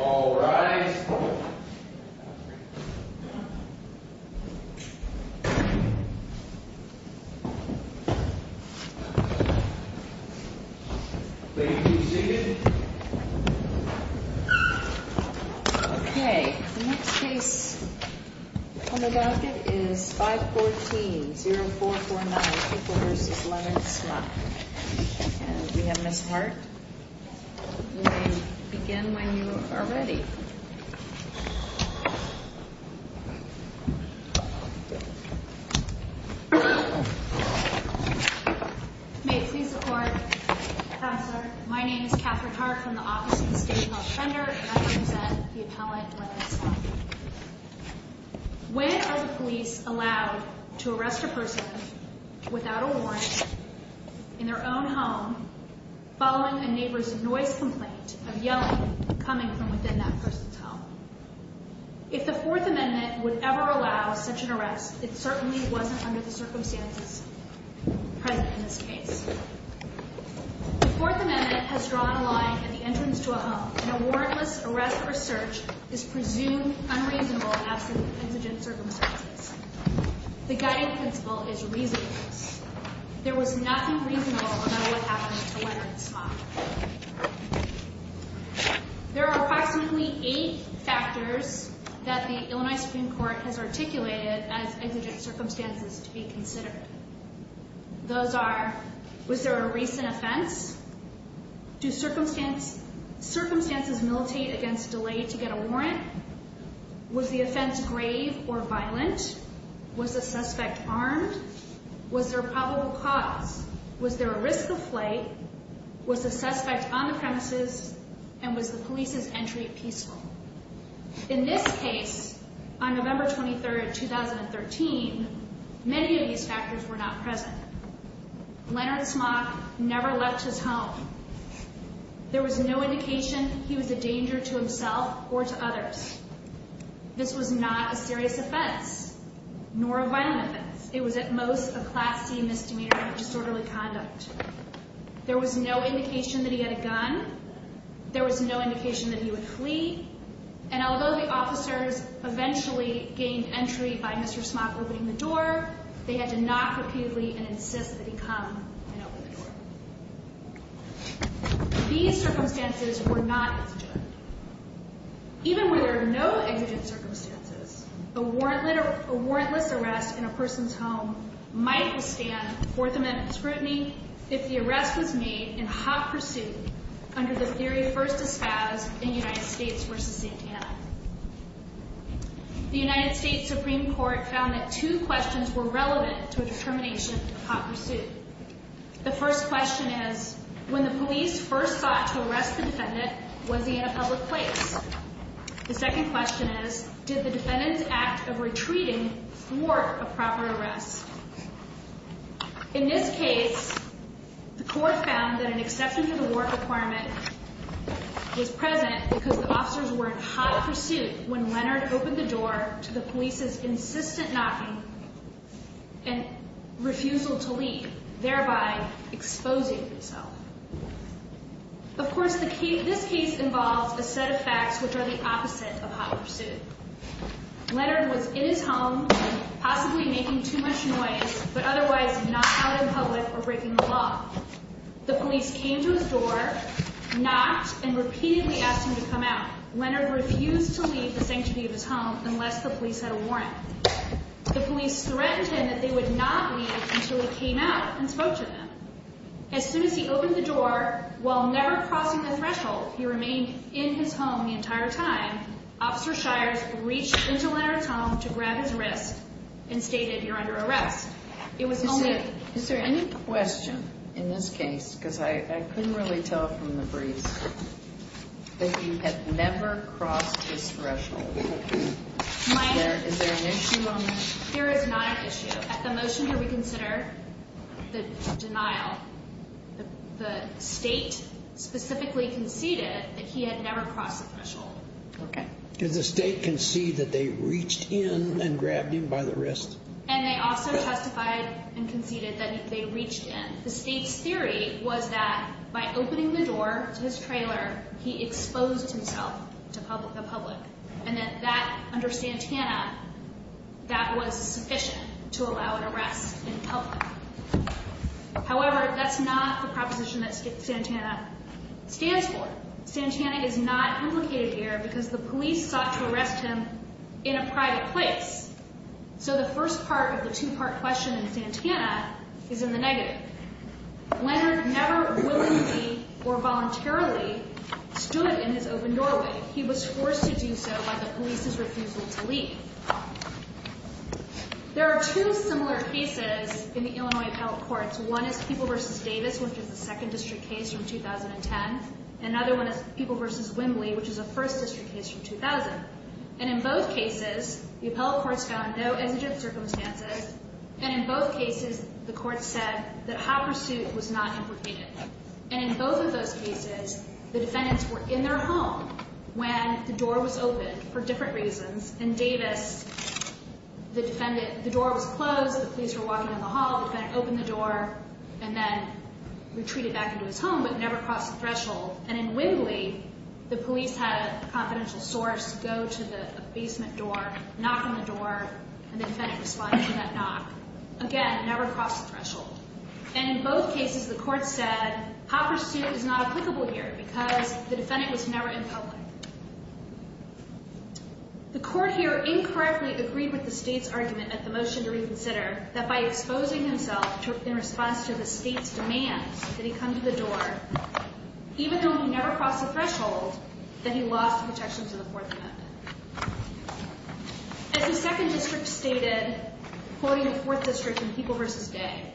All rise. Ladies and gentlemen. Okay, the next case on the balcony is 514-0449 Pickle v. Lemon v. Smock. And we have Ms. Hart. You may begin when you are ready. May it please the Court. Counselor, my name is Katherine Hart from the Office of the State Health Defender. And I represent the appellant, Lemon v. Smock. When are the police allowed to arrest a person without a warrant in their own home following a neighbor's noise complaint of yelling coming from within that person's home? If the Fourth Amendment would ever allow such an arrest, it certainly wasn't under the circumstances present in this case. The Fourth Amendment has drawn a line at the entrance to a home. An awardless arrest or search is presumed unreasonable in absence of indigent circumstances. The guiding principle is reasonableness. There was nothing reasonable about what happened to Lemon v. Smock. There are approximately eight factors that the Illinois Supreme Court has articulated as indigent circumstances to be considered. Those are, was there a recent offense? Do circumstances militate against delay to get a warrant? Was the offense grave or violent? Was the suspect armed? Was there a probable cause? Was there a risk of flight? Was the suspect on the premises? And was the police's entry peaceful? In this case, on November 23, 2013, many of these factors were not present. Leonard Smock never left his home. There was no indication he was a danger to himself or to others. This was not a serious offense, nor a violent offense. It was at most a Class C misdemeanor of disorderly conduct. There was no indication that he had a gun. There was no indication that he would flee. And although the officers eventually gained entry by Mr. Smock opening the door, they had to knock repeatedly and insist that he come and open the door. These circumstances were not indigent. Even where there are no indigent circumstances, a warrantless arrest in a person's home might withstand Fourth Amendment scrutiny if the arrest was made in hot pursuit under the theory first espoused in United States v. Santana. The United States Supreme Court found that two questions were relevant to a determination of hot pursuit. The first question is, when the police first sought to arrest the defendant, was he in a public place? The second question is, did the defendant's act of retreating thwart a proper arrest? In this case, the court found that an exception to the warrant requirement was present because the officers were in hot pursuit when Leonard opened the door to the police's insistent knocking and refusal to leave, thereby exposing himself. Of course, this case involves a set of facts which are the opposite of hot pursuit. Leonard was in his home, possibly making too much noise, but otherwise not out in public or breaking the law. The police came to his door, knocked, and repeatedly asked him to come out. Leonard refused to leave the sanctuary of his home unless the police had a warrant. The police threatened him that they would not leave until he came out and spoke to them. As soon as he opened the door, while never crossing the threshold, he remained in his home the entire time. Officer Shires reached into Leonard's home to grab his wrist and stated, You're under arrest. Is there any question in this case, because I couldn't really tell from the briefs, that he had never crossed the threshold? Is there an issue on that? There is not an issue. At the motion here, we consider the denial. The State specifically conceded that he had never crossed the threshold. Okay. Did the State concede that they reached in and grabbed him by the wrist? And they also testified and conceded that they reached in. The State's theory was that by opening the door to his trailer, he exposed himself to the public, and that under Santana, that was sufficient to allow an arrest in public. However, that's not the proposition that Santana stands for. Santana is not implicated here because the police sought to arrest him in a private place. So the first part of the two-part question in Santana is in the negative. Leonard never willingly or voluntarily stood in his open doorway. He was forced to do so by the police's refusal to leave. There are two similar cases in the Illinois appellate courts. One is People v. Davis, which is a second district case from 2010. Another one is People v. Wimbley, which is a first district case from 2000. And in both cases, the appellate courts found no exigent circumstances. And in both cases, the courts said that hot pursuit was not implicated. And in both of those cases, the defendants were in their home when the door was open for different reasons, and in Davis, the door was closed, the police were walking in the hall, the defendant opened the door, and then retreated back into his home but never crossed the threshold. And in Wimbley, the police had a confidential source go to the basement door, knock on the door, and the defendant responded to that knock. Again, never crossed the threshold. And in both cases, the courts said hot pursuit is not applicable here because the defendant was never in public. The court here incorrectly agreed with the state's argument at the motion to reconsider that by exposing himself in response to the state's demands that he come to the door, even though he never crossed the threshold, that he lost the protections of the Fourth Amendment. As the second district stated, quoting the fourth district in People v. Day,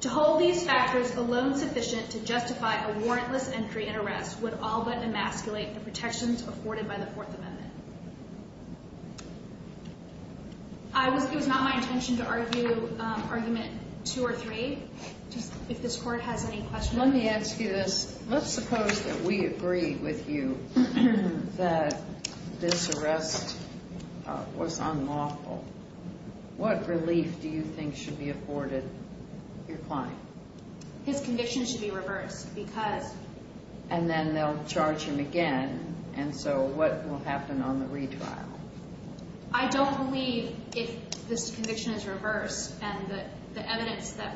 to hold these factors alone sufficient to justify a warrantless entry and arrest would all but emasculate the protections afforded by the Fourth Amendment. It was not my intention to argue argument two or three. If this court has any questions. Let me ask you this. Let's suppose that we agree with you that this arrest was unlawful. What relief do you think should be afforded your client? His conviction should be reversed because... And then they'll charge him again. And so what will happen on the retrial? I don't believe if this conviction is reversed and the evidence that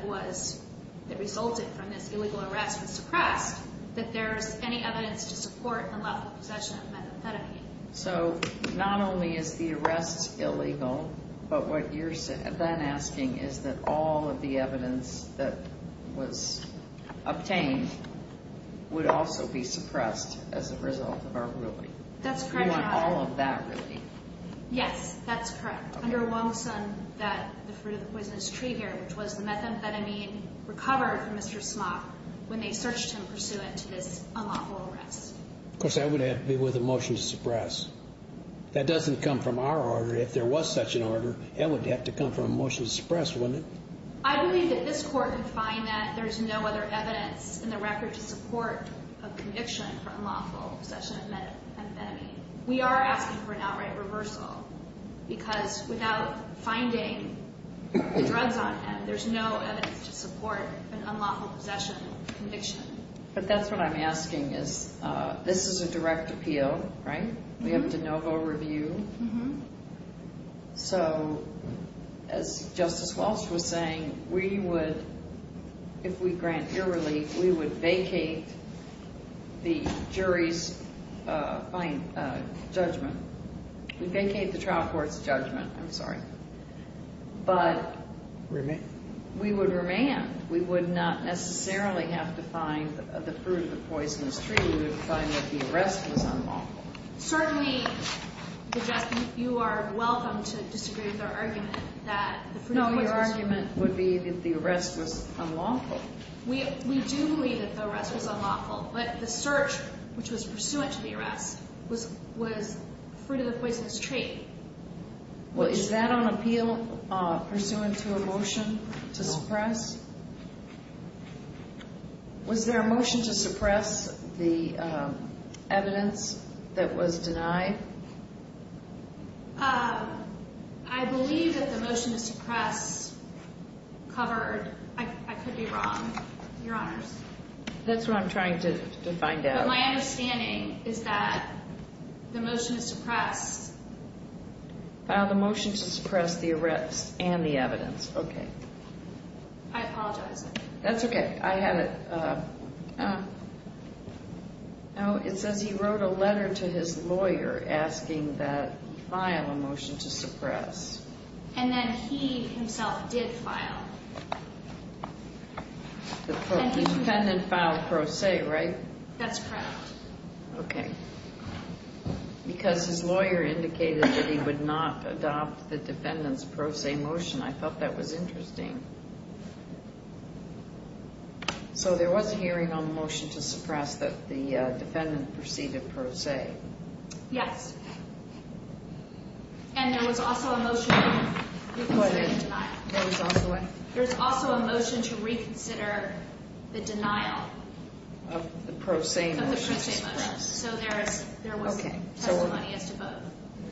resulted from this illegal arrest was suppressed that there's any evidence to support the lack of possession of methamphetamine. So not only is the arrest illegal, but what you're then asking is that all of the evidence that was obtained would also be suppressed as a result of our ruling. That's correct, Your Honor. You want all of that relief? Yes, that's correct. Under Wong-Sun, the fruit of the poisonous tree here, which was the methamphetamine recovered from Mr. Smock when they searched him pursuant to this unlawful arrest. Of course, that would have to be with a motion to suppress. That doesn't come from our order. If there was such an order, that would have to come from a motion to suppress, wouldn't it? I believe that this Court would find that there's no other evidence in the record to support a conviction for unlawful possession of methamphetamine. We are asking for an outright reversal because without finding the drugs on him, there's no evidence to support an unlawful possession conviction. But that's what I'm asking is this is a direct appeal, right? We have de novo review. So as Justice Walsh was saying, we would, if we grant your relief, we would vacate the jury's judgment. We'd vacate the trial court's judgment. I'm sorry. But we would remand. We would not necessarily have to find the fruit of the poisonous tree. We would find that the arrest was unlawful. Certainly, Justice, you are welcome to disagree with our argument that the fruit of the poisonous tree. No, your argument would be that the arrest was unlawful. We do believe that the arrest was unlawful, but the search, which was pursuant to the arrest, was fruit of the poisonous tree. Well, is that on appeal pursuant to a motion to suppress? Was there a motion to suppress the evidence that was denied? I believe that the motion to suppress covered. I could be wrong, your honors. That's what I'm trying to find out. My understanding is that the motion to suppress. File the motion to suppress the arrest and the evidence. Okay. I apologize. That's okay. I had it. It says he wrote a letter to his lawyer asking that he file a motion to suppress. And then he himself did file. The defendant filed pro se, right? That's correct. Okay. Because his lawyer indicated that he would not adopt the defendant's pro se motion. I thought that was interesting. So there was a hearing on the motion to suppress that the defendant proceeded pro se. Yes. And there was also a motion to reconsider the denial. Of the pro se motion to suppress. Of the pro se motion. So there was testimony as to both.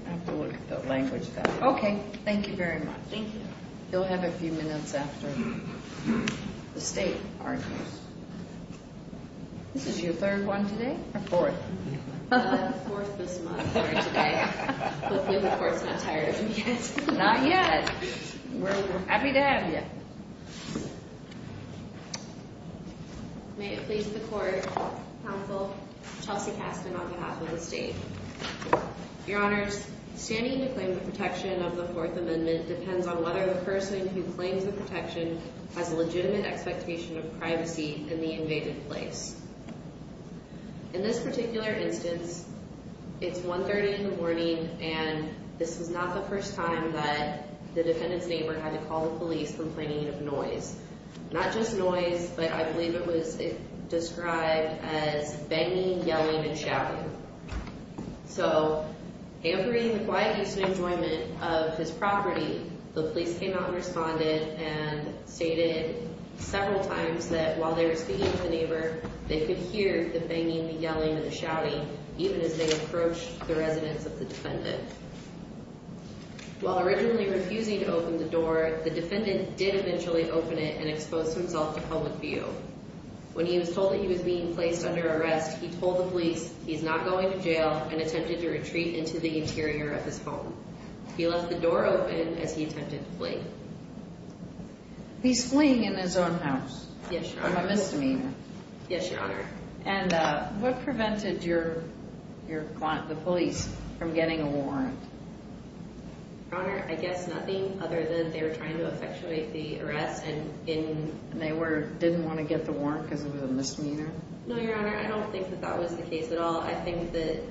I have to look at the language. Okay. Thank you very much. Thank you. You'll have a few minutes after the state argues. This is your third one today? Or fourth? Fourth this month for today. But we, of course, are not tired of you yet. Not yet. We're happy to have you. Okay. May it please the court. Counsel. Chelsea Caston on behalf of the state. Your honors. Standing to claim the protection of the fourth amendment depends on whether the person who claims the protection. Has a legitimate expectation of privacy in the invaded place. In this particular instance. It's 130 in the morning, and this is not the first time that the defendant's neighbor had to call the police complaining of noise. Not just noise, but I believe it was described as banging, yelling and shouting. So. In the quiet use and enjoyment of his property. The police came out and responded and stated several times that while they were speaking to the neighbor. They could hear the banging, the yelling and the shouting, even as they approached the residence of the defendant. While originally refusing to open the door, the defendant did eventually open it and expose himself to public view. When he was told that he was being placed under arrest, he told the police he's not going to jail and attempted to retreat into the interior of his home. He left the door open as he attempted to flee. He's fleeing in his own house. Yes, your honor. My misdemeanor. Yes, your honor. And what prevented your. Your client, the police from getting a warrant. I guess nothing other than they were trying to effectuate the arrest. And they were didn't want to get the warrant because it was a misdemeanor. No, your honor. I don't think that that was the case at all. I think that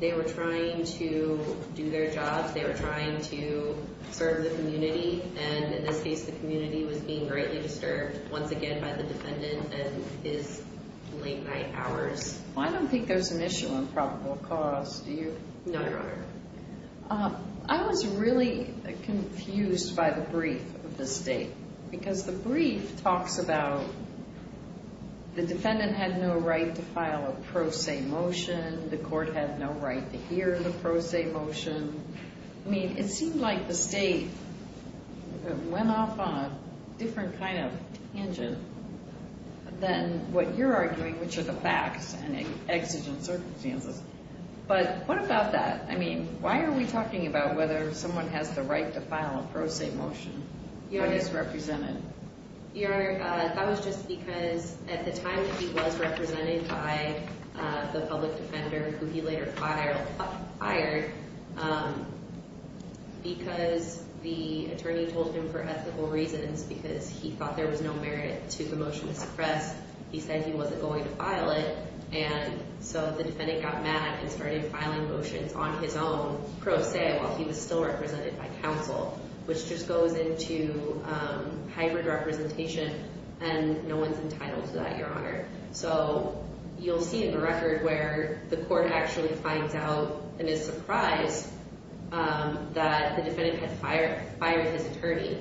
they were trying to do their jobs. They were trying to serve the community. And in this case, the community was being greatly disturbed once again by the defendant and his late night hours. I don't think there's an issue on probable cause. Do you? No, your honor. I was really confused by the brief of the state because the brief talks about the defendant had no right to file a pro se motion. The court had no right to hear the pro se motion. I mean, it seemed like the state went off on a different kind of engine than what you're arguing, which are the facts and exigent circumstances. But what about that? I mean, why are we talking about whether someone has the right to file a pro se motion when he's represented? Your honor, that was just because at the time that he was represented by the public defender, who he later fired, because the attorney told him for ethical reasons because he thought there was no merit to the motion to suppress. He said he wasn't going to file it. And so the defendant got mad and started filing motions on his own pro se while he was still represented by counsel, which just goes into hybrid representation. And no one's entitled to that, your honor. So you'll see in the record where the court actually finds out and is surprised that the defendant had fired his attorney.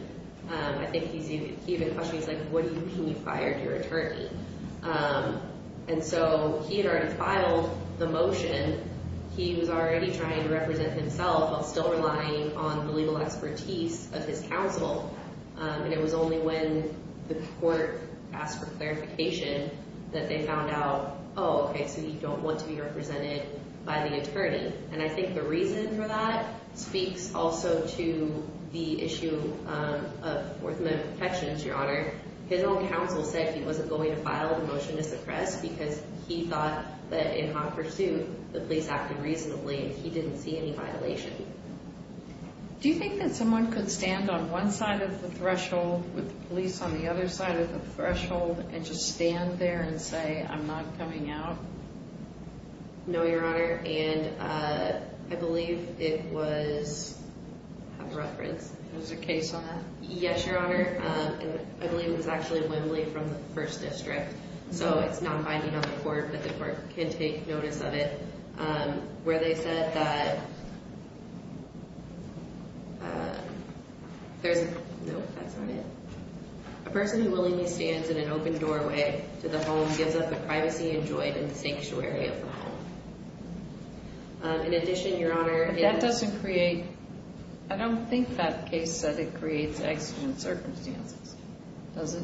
I think he even questioned, he's like, what do you mean you fired your attorney? And so he had already filed the motion. He was already trying to represent himself while still relying on the legal expertise of his counsel. And it was only when the court asked for clarification that they found out, oh, okay, so you don't want to be represented by the attorney. And I think the reason for that speaks also to the issue of orthodontic protections, your honor. His own counsel said he wasn't going to file the motion to suppress because he thought that in hot pursuit, the police acted reasonably and he didn't see any violation. Do you think that someone could stand on one side of the threshold with the police on the other side of the threshold and just stand there and say, I'm not coming out? No, your honor. And I believe it was referenced. There was a case on that? Yes, your honor. I believe it was actually Wembley from the first district. So it's not binding on the court, but the court can take notice of it, where they said that there's, no, that's not it. A person who willingly stands in an open doorway to the home gives up the privacy enjoyed in the sanctuary of the home. In addition, your honor. That doesn't create, I don't think that case said it creates exigent circumstances, does it?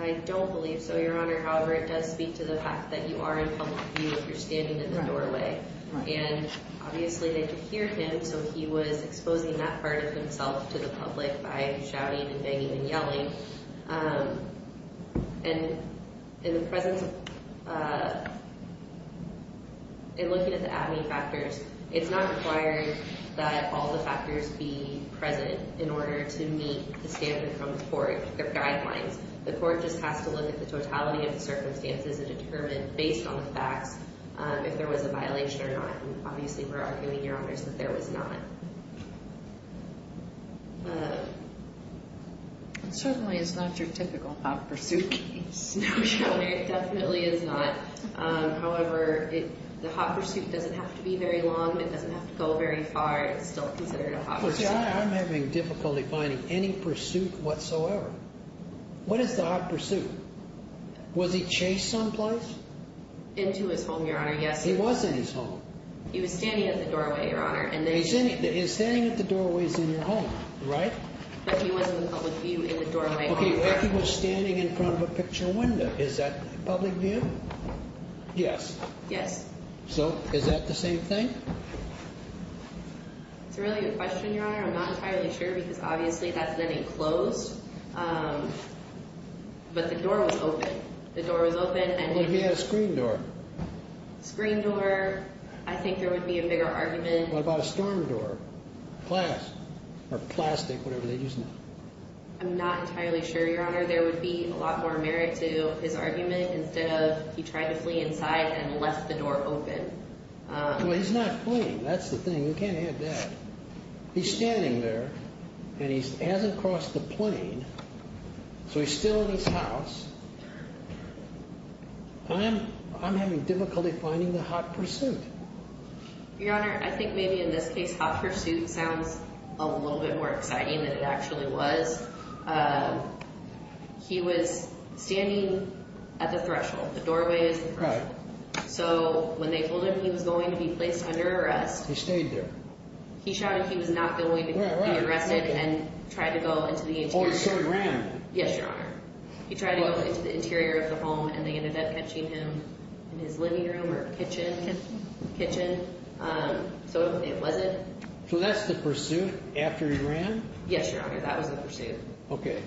I don't believe so, your honor. However, it does speak to the fact that you are in public view if you're standing in the doorway. And obviously they could hear him, so he was exposing that part of himself to the public by shouting and banging and yelling. And in the presence of, in looking at the abney factors, it's not required that all the factors be present in order to meet the standard from the court, the guidelines. The court just has to look at the totality of the circumstances and determine, based on the facts, if there was a violation or not. And obviously we're arguing, your honor, that there was not. It certainly is not your typical hot pursuit case. No, your honor, it definitely is not. However, the hot pursuit doesn't have to be very long, it doesn't have to go very far. It's still considered a hot pursuit. I'm having difficulty finding any pursuit whatsoever. What is the hot pursuit? Was he chased someplace? Into his home, your honor, yes. He was in his home. He was standing at the doorway, your honor. He's standing at the doorways in your home, right? But he wasn't in public view in the doorway. Okay, but he was standing in front of a picture window. Is that public view? Yes. Yes. So, is that the same thing? It's a really good question, your honor. I'm not entirely sure because obviously that's an enclosed, but the door was open. The door was open. What if he had a screen door? Screen door, I think there would be a bigger argument. What about a storm door? Glass or plastic, whatever they use now. I'm not entirely sure, your honor. There would be a lot more merit to his argument instead of he tried to flee inside and left the door open. Well, he's not fleeing. That's the thing. You can't have that. He's standing there and he hasn't crossed the plane, so he's still in his house. I'm having difficulty finding the hot pursuit. Your honor, I think maybe in this case hot pursuit sounds a little bit more exciting than it actually was. He was standing at the threshold. The doorway is the threshold. Right. So, when they told him he was going to be placed under arrest. He stayed there. He shouted he was not going to be arrested and tried to go into the interior. Oh, so he ran? Yes, your honor. He tried to go into the interior of the home and they ended up catching him in his living room or kitchen. So, it wasn't. So, that's the pursuit after he ran? Yes, your honor. That was the pursuit. Okay.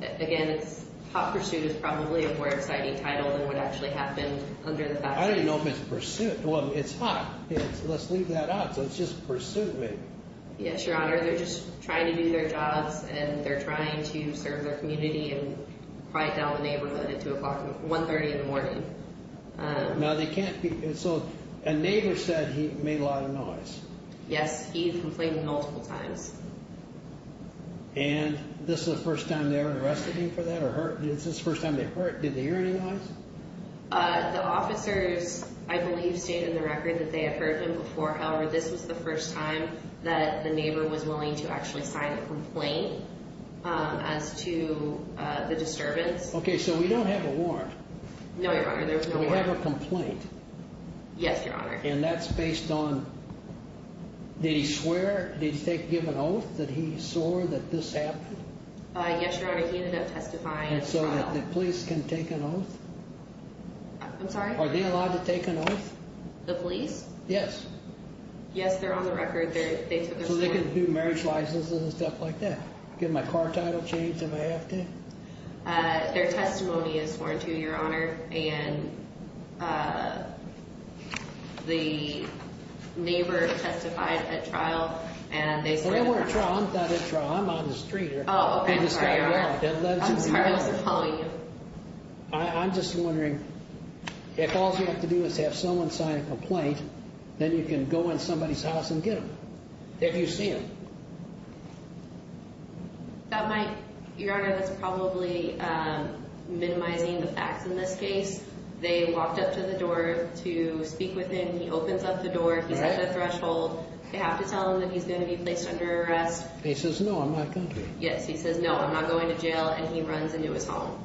Again, hot pursuit is probably a more exciting title than what actually happened under the fact that he ran. I didn't know if it's pursuit. Well, it's hot. Let's leave that out. So, it's just pursuit maybe. Yes, your honor. They're just trying to do their jobs and they're trying to serve their community and pride down the neighborhood at 2 o'clock, 130 in the morning. Now, they can't be. So, a neighbor said he made a lot of noise. Yes, he complained multiple times. And this is the first time they ever arrested him for that or hurt? This is the first time they hurt. Did they hear any noise? The officers, I believe, stated in the record that they had heard him before. However, this was the first time that the neighbor was willing to actually sign a complaint as to the disturbance. Okay, so we don't have a warrant. No, your honor. So, we have a complaint. Yes, your honor. And that's based on, did he swear? Did he give an oath that he swore that this happened? Yes, your honor. He ended up testifying. And so, the police can take an oath? I'm sorry? Are they allowed to take an oath? The police? Yes. Yes, they're on the record. So, they can do marriage licenses and stuff like that? Get my car title changed if I have to? Their testimony is warranted, your honor. And the neighbor testified at trial. And they said... Well, they weren't at trial. I'm not at trial. I'm on the street here. Oh, okay. I'm sorry. I wasn't following you. I'm just wondering, if all you have to do is have someone sign a complaint, then you can go in somebody's house and get them. If you see them. Your honor, that's probably minimizing the facts in this case. They walked up to the door to speak with him. He opens up the door. He's at the threshold. They have to tell him that he's going to be placed under arrest. He says, no, I'm not going to. Yes, he says, no, I'm not going to jail. And he runs into his home.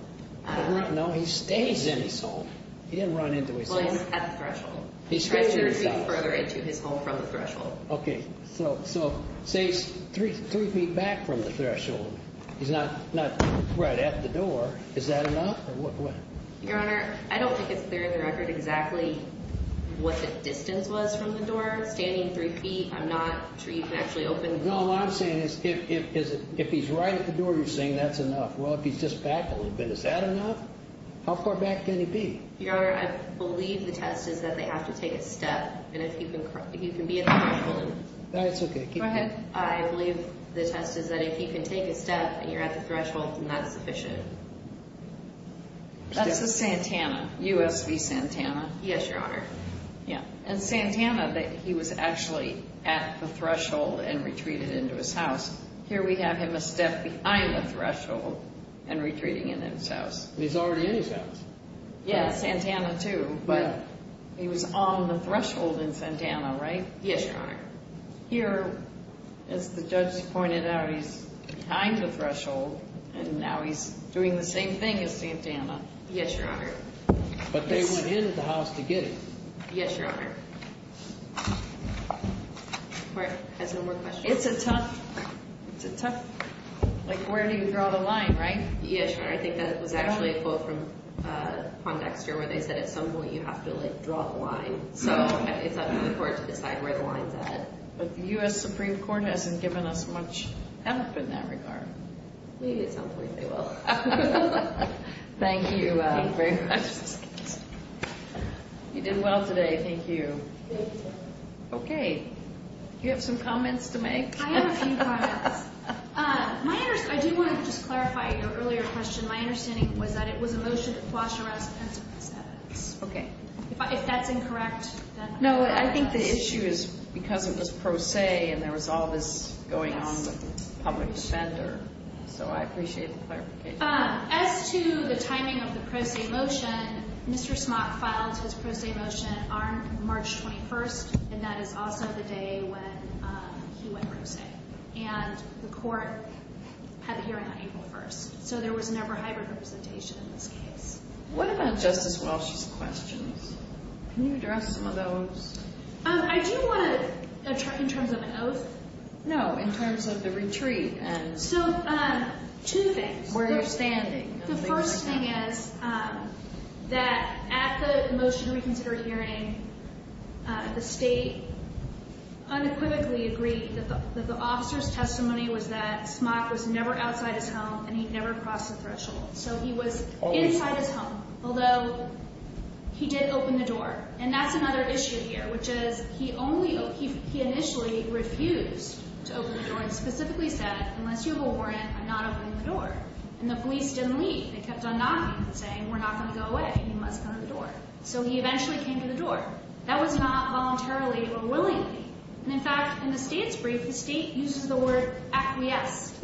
No, he stays in his home. He didn't run into his home. Well, he's at the threshold. He stays in his house. Further into his home from the threshold. Okay. So, say he's three feet back from the threshold. He's not right at the door. Is that enough? Your honor, I don't think it's clear on the record exactly what the distance was from the door. Standing three feet, I'm not sure you can actually open the door. No, what I'm saying is, if he's right at the door, you're saying that's enough. Well, if he's just back a little bit, is that enough? How far back can he be? Your honor, I believe the test is that they have to take a step. And if you can be at the threshold. That's okay. Go ahead. I believe the test is that if he can take a step and you're at the threshold, then that's sufficient. That's the Santana. U.S. v. Santana. Yes, your honor. Yeah. And Santana, he was actually at the threshold and retreated into his house. Here we have him a step behind the threshold and retreating into his house. He's already in his house. Yeah, Santana too. But he was on the threshold in Santana, right? Yes, your honor. Here, as the judge pointed out, he's behind the threshold. And now he's doing the same thing as Santana. Yes, your honor. But they went into the house to get him. Yes, your honor. Has no more questions. It's a tough, it's a tough, like where do you draw the line, right? Yes, your honor. I think that was actually a quote from Pondexter where they said at some point you have to, like, draw the line. So it's up to the court to decide where the line's at. But the U.S. Supreme Court hasn't given us much help in that regard. Maybe at some point they will. Thank you very much. You did well today. Thank you. Thank you. Okay. Do you have some comments to make? I have a few comments. I do want to just clarify your earlier question. My understanding was that it was a motion to quash arrest and sentence. Okay. If that's incorrect, then I apologize. No, I think the issue is because it was pro se and there was all this going on with the public defender. So I appreciate the clarification. As to the timing of the pro se motion, Mr. Smock filed his pro se motion on March 21st. And that is also the day when he went pro se. And the court had the hearing on April 1st. So there was never hybrid representation in this case. What about Justice Walsh's questions? Can you address some of those? I do want to, in terms of an oath? No, in terms of the retreat and where you're standing. The first thing is that at the motion to reconsider hearing, the state unequivocally agreed that the officer's testimony was that Smock was never outside his home and he never crossed the threshold. So he was inside his home. Although he did open the door. And that's another issue here, which is he initially refused to open the door and specifically said, unless you have a warrant, I'm not opening the door. And the police didn't leave. They kept on knocking and saying, we're not going to go away. You must come to the door. So he eventually came to the door. That was not voluntarily or willingly. And in fact, in the state's brief, the state uses the word acquiesced.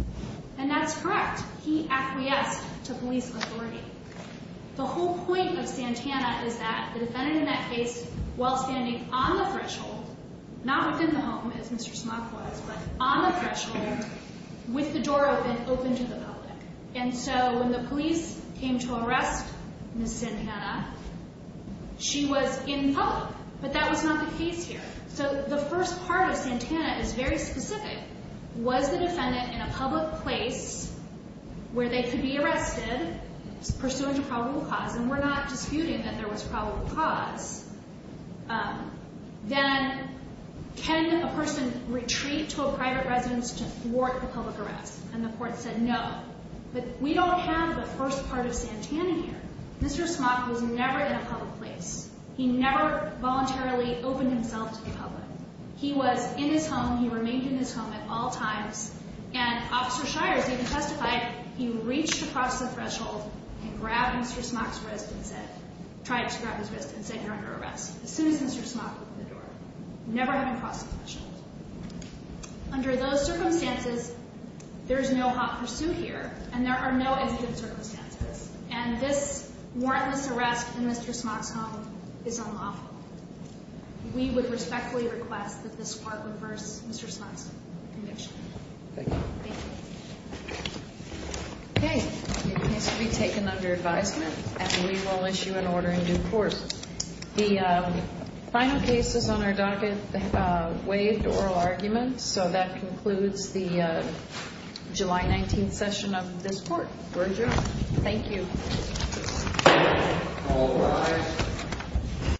And that's correct. He acquiesced to police authority. The whole point of Santana is that the defendant in that case, while standing on the threshold, not within the home, as Mr. Smock was, but on the threshold, with the door open, opened to the public. And so when the police came to arrest Ms. Santana, she was in public. But that was not the case here. So the first part of Santana is very specific. Was the defendant in a public place where they could be arrested pursuant to probable cause? And we're not disputing that there was probable cause. Then can a person retreat to a private residence to thwart the public arrest? And the court said no. But we don't have the first part of Santana here. Mr. Smock was never in a public place. He never voluntarily opened himself to the public. He was in his home. He remained in his home at all times. And Officer Shires even testified he reached across the threshold and grabbed Mr. Smock's wrist and said, tried to grab his wrist and said, you're under arrest. As soon as Mr. Smock opened the door. Never having crossed the threshold. Under those circumstances, there's no hot pursuit here. And there are no evident circumstances. And this warrantless arrest in Mr. Smock's home is unlawful. We would respectfully request that this court reverse Mr. Smock's conviction. Thank you. Thank you. Okay. Your case will be taken under advisement and we will issue an order in due course. The final case is on our docket, waived oral argument. So that concludes the July 19th session of this court. Thank you. Thank you.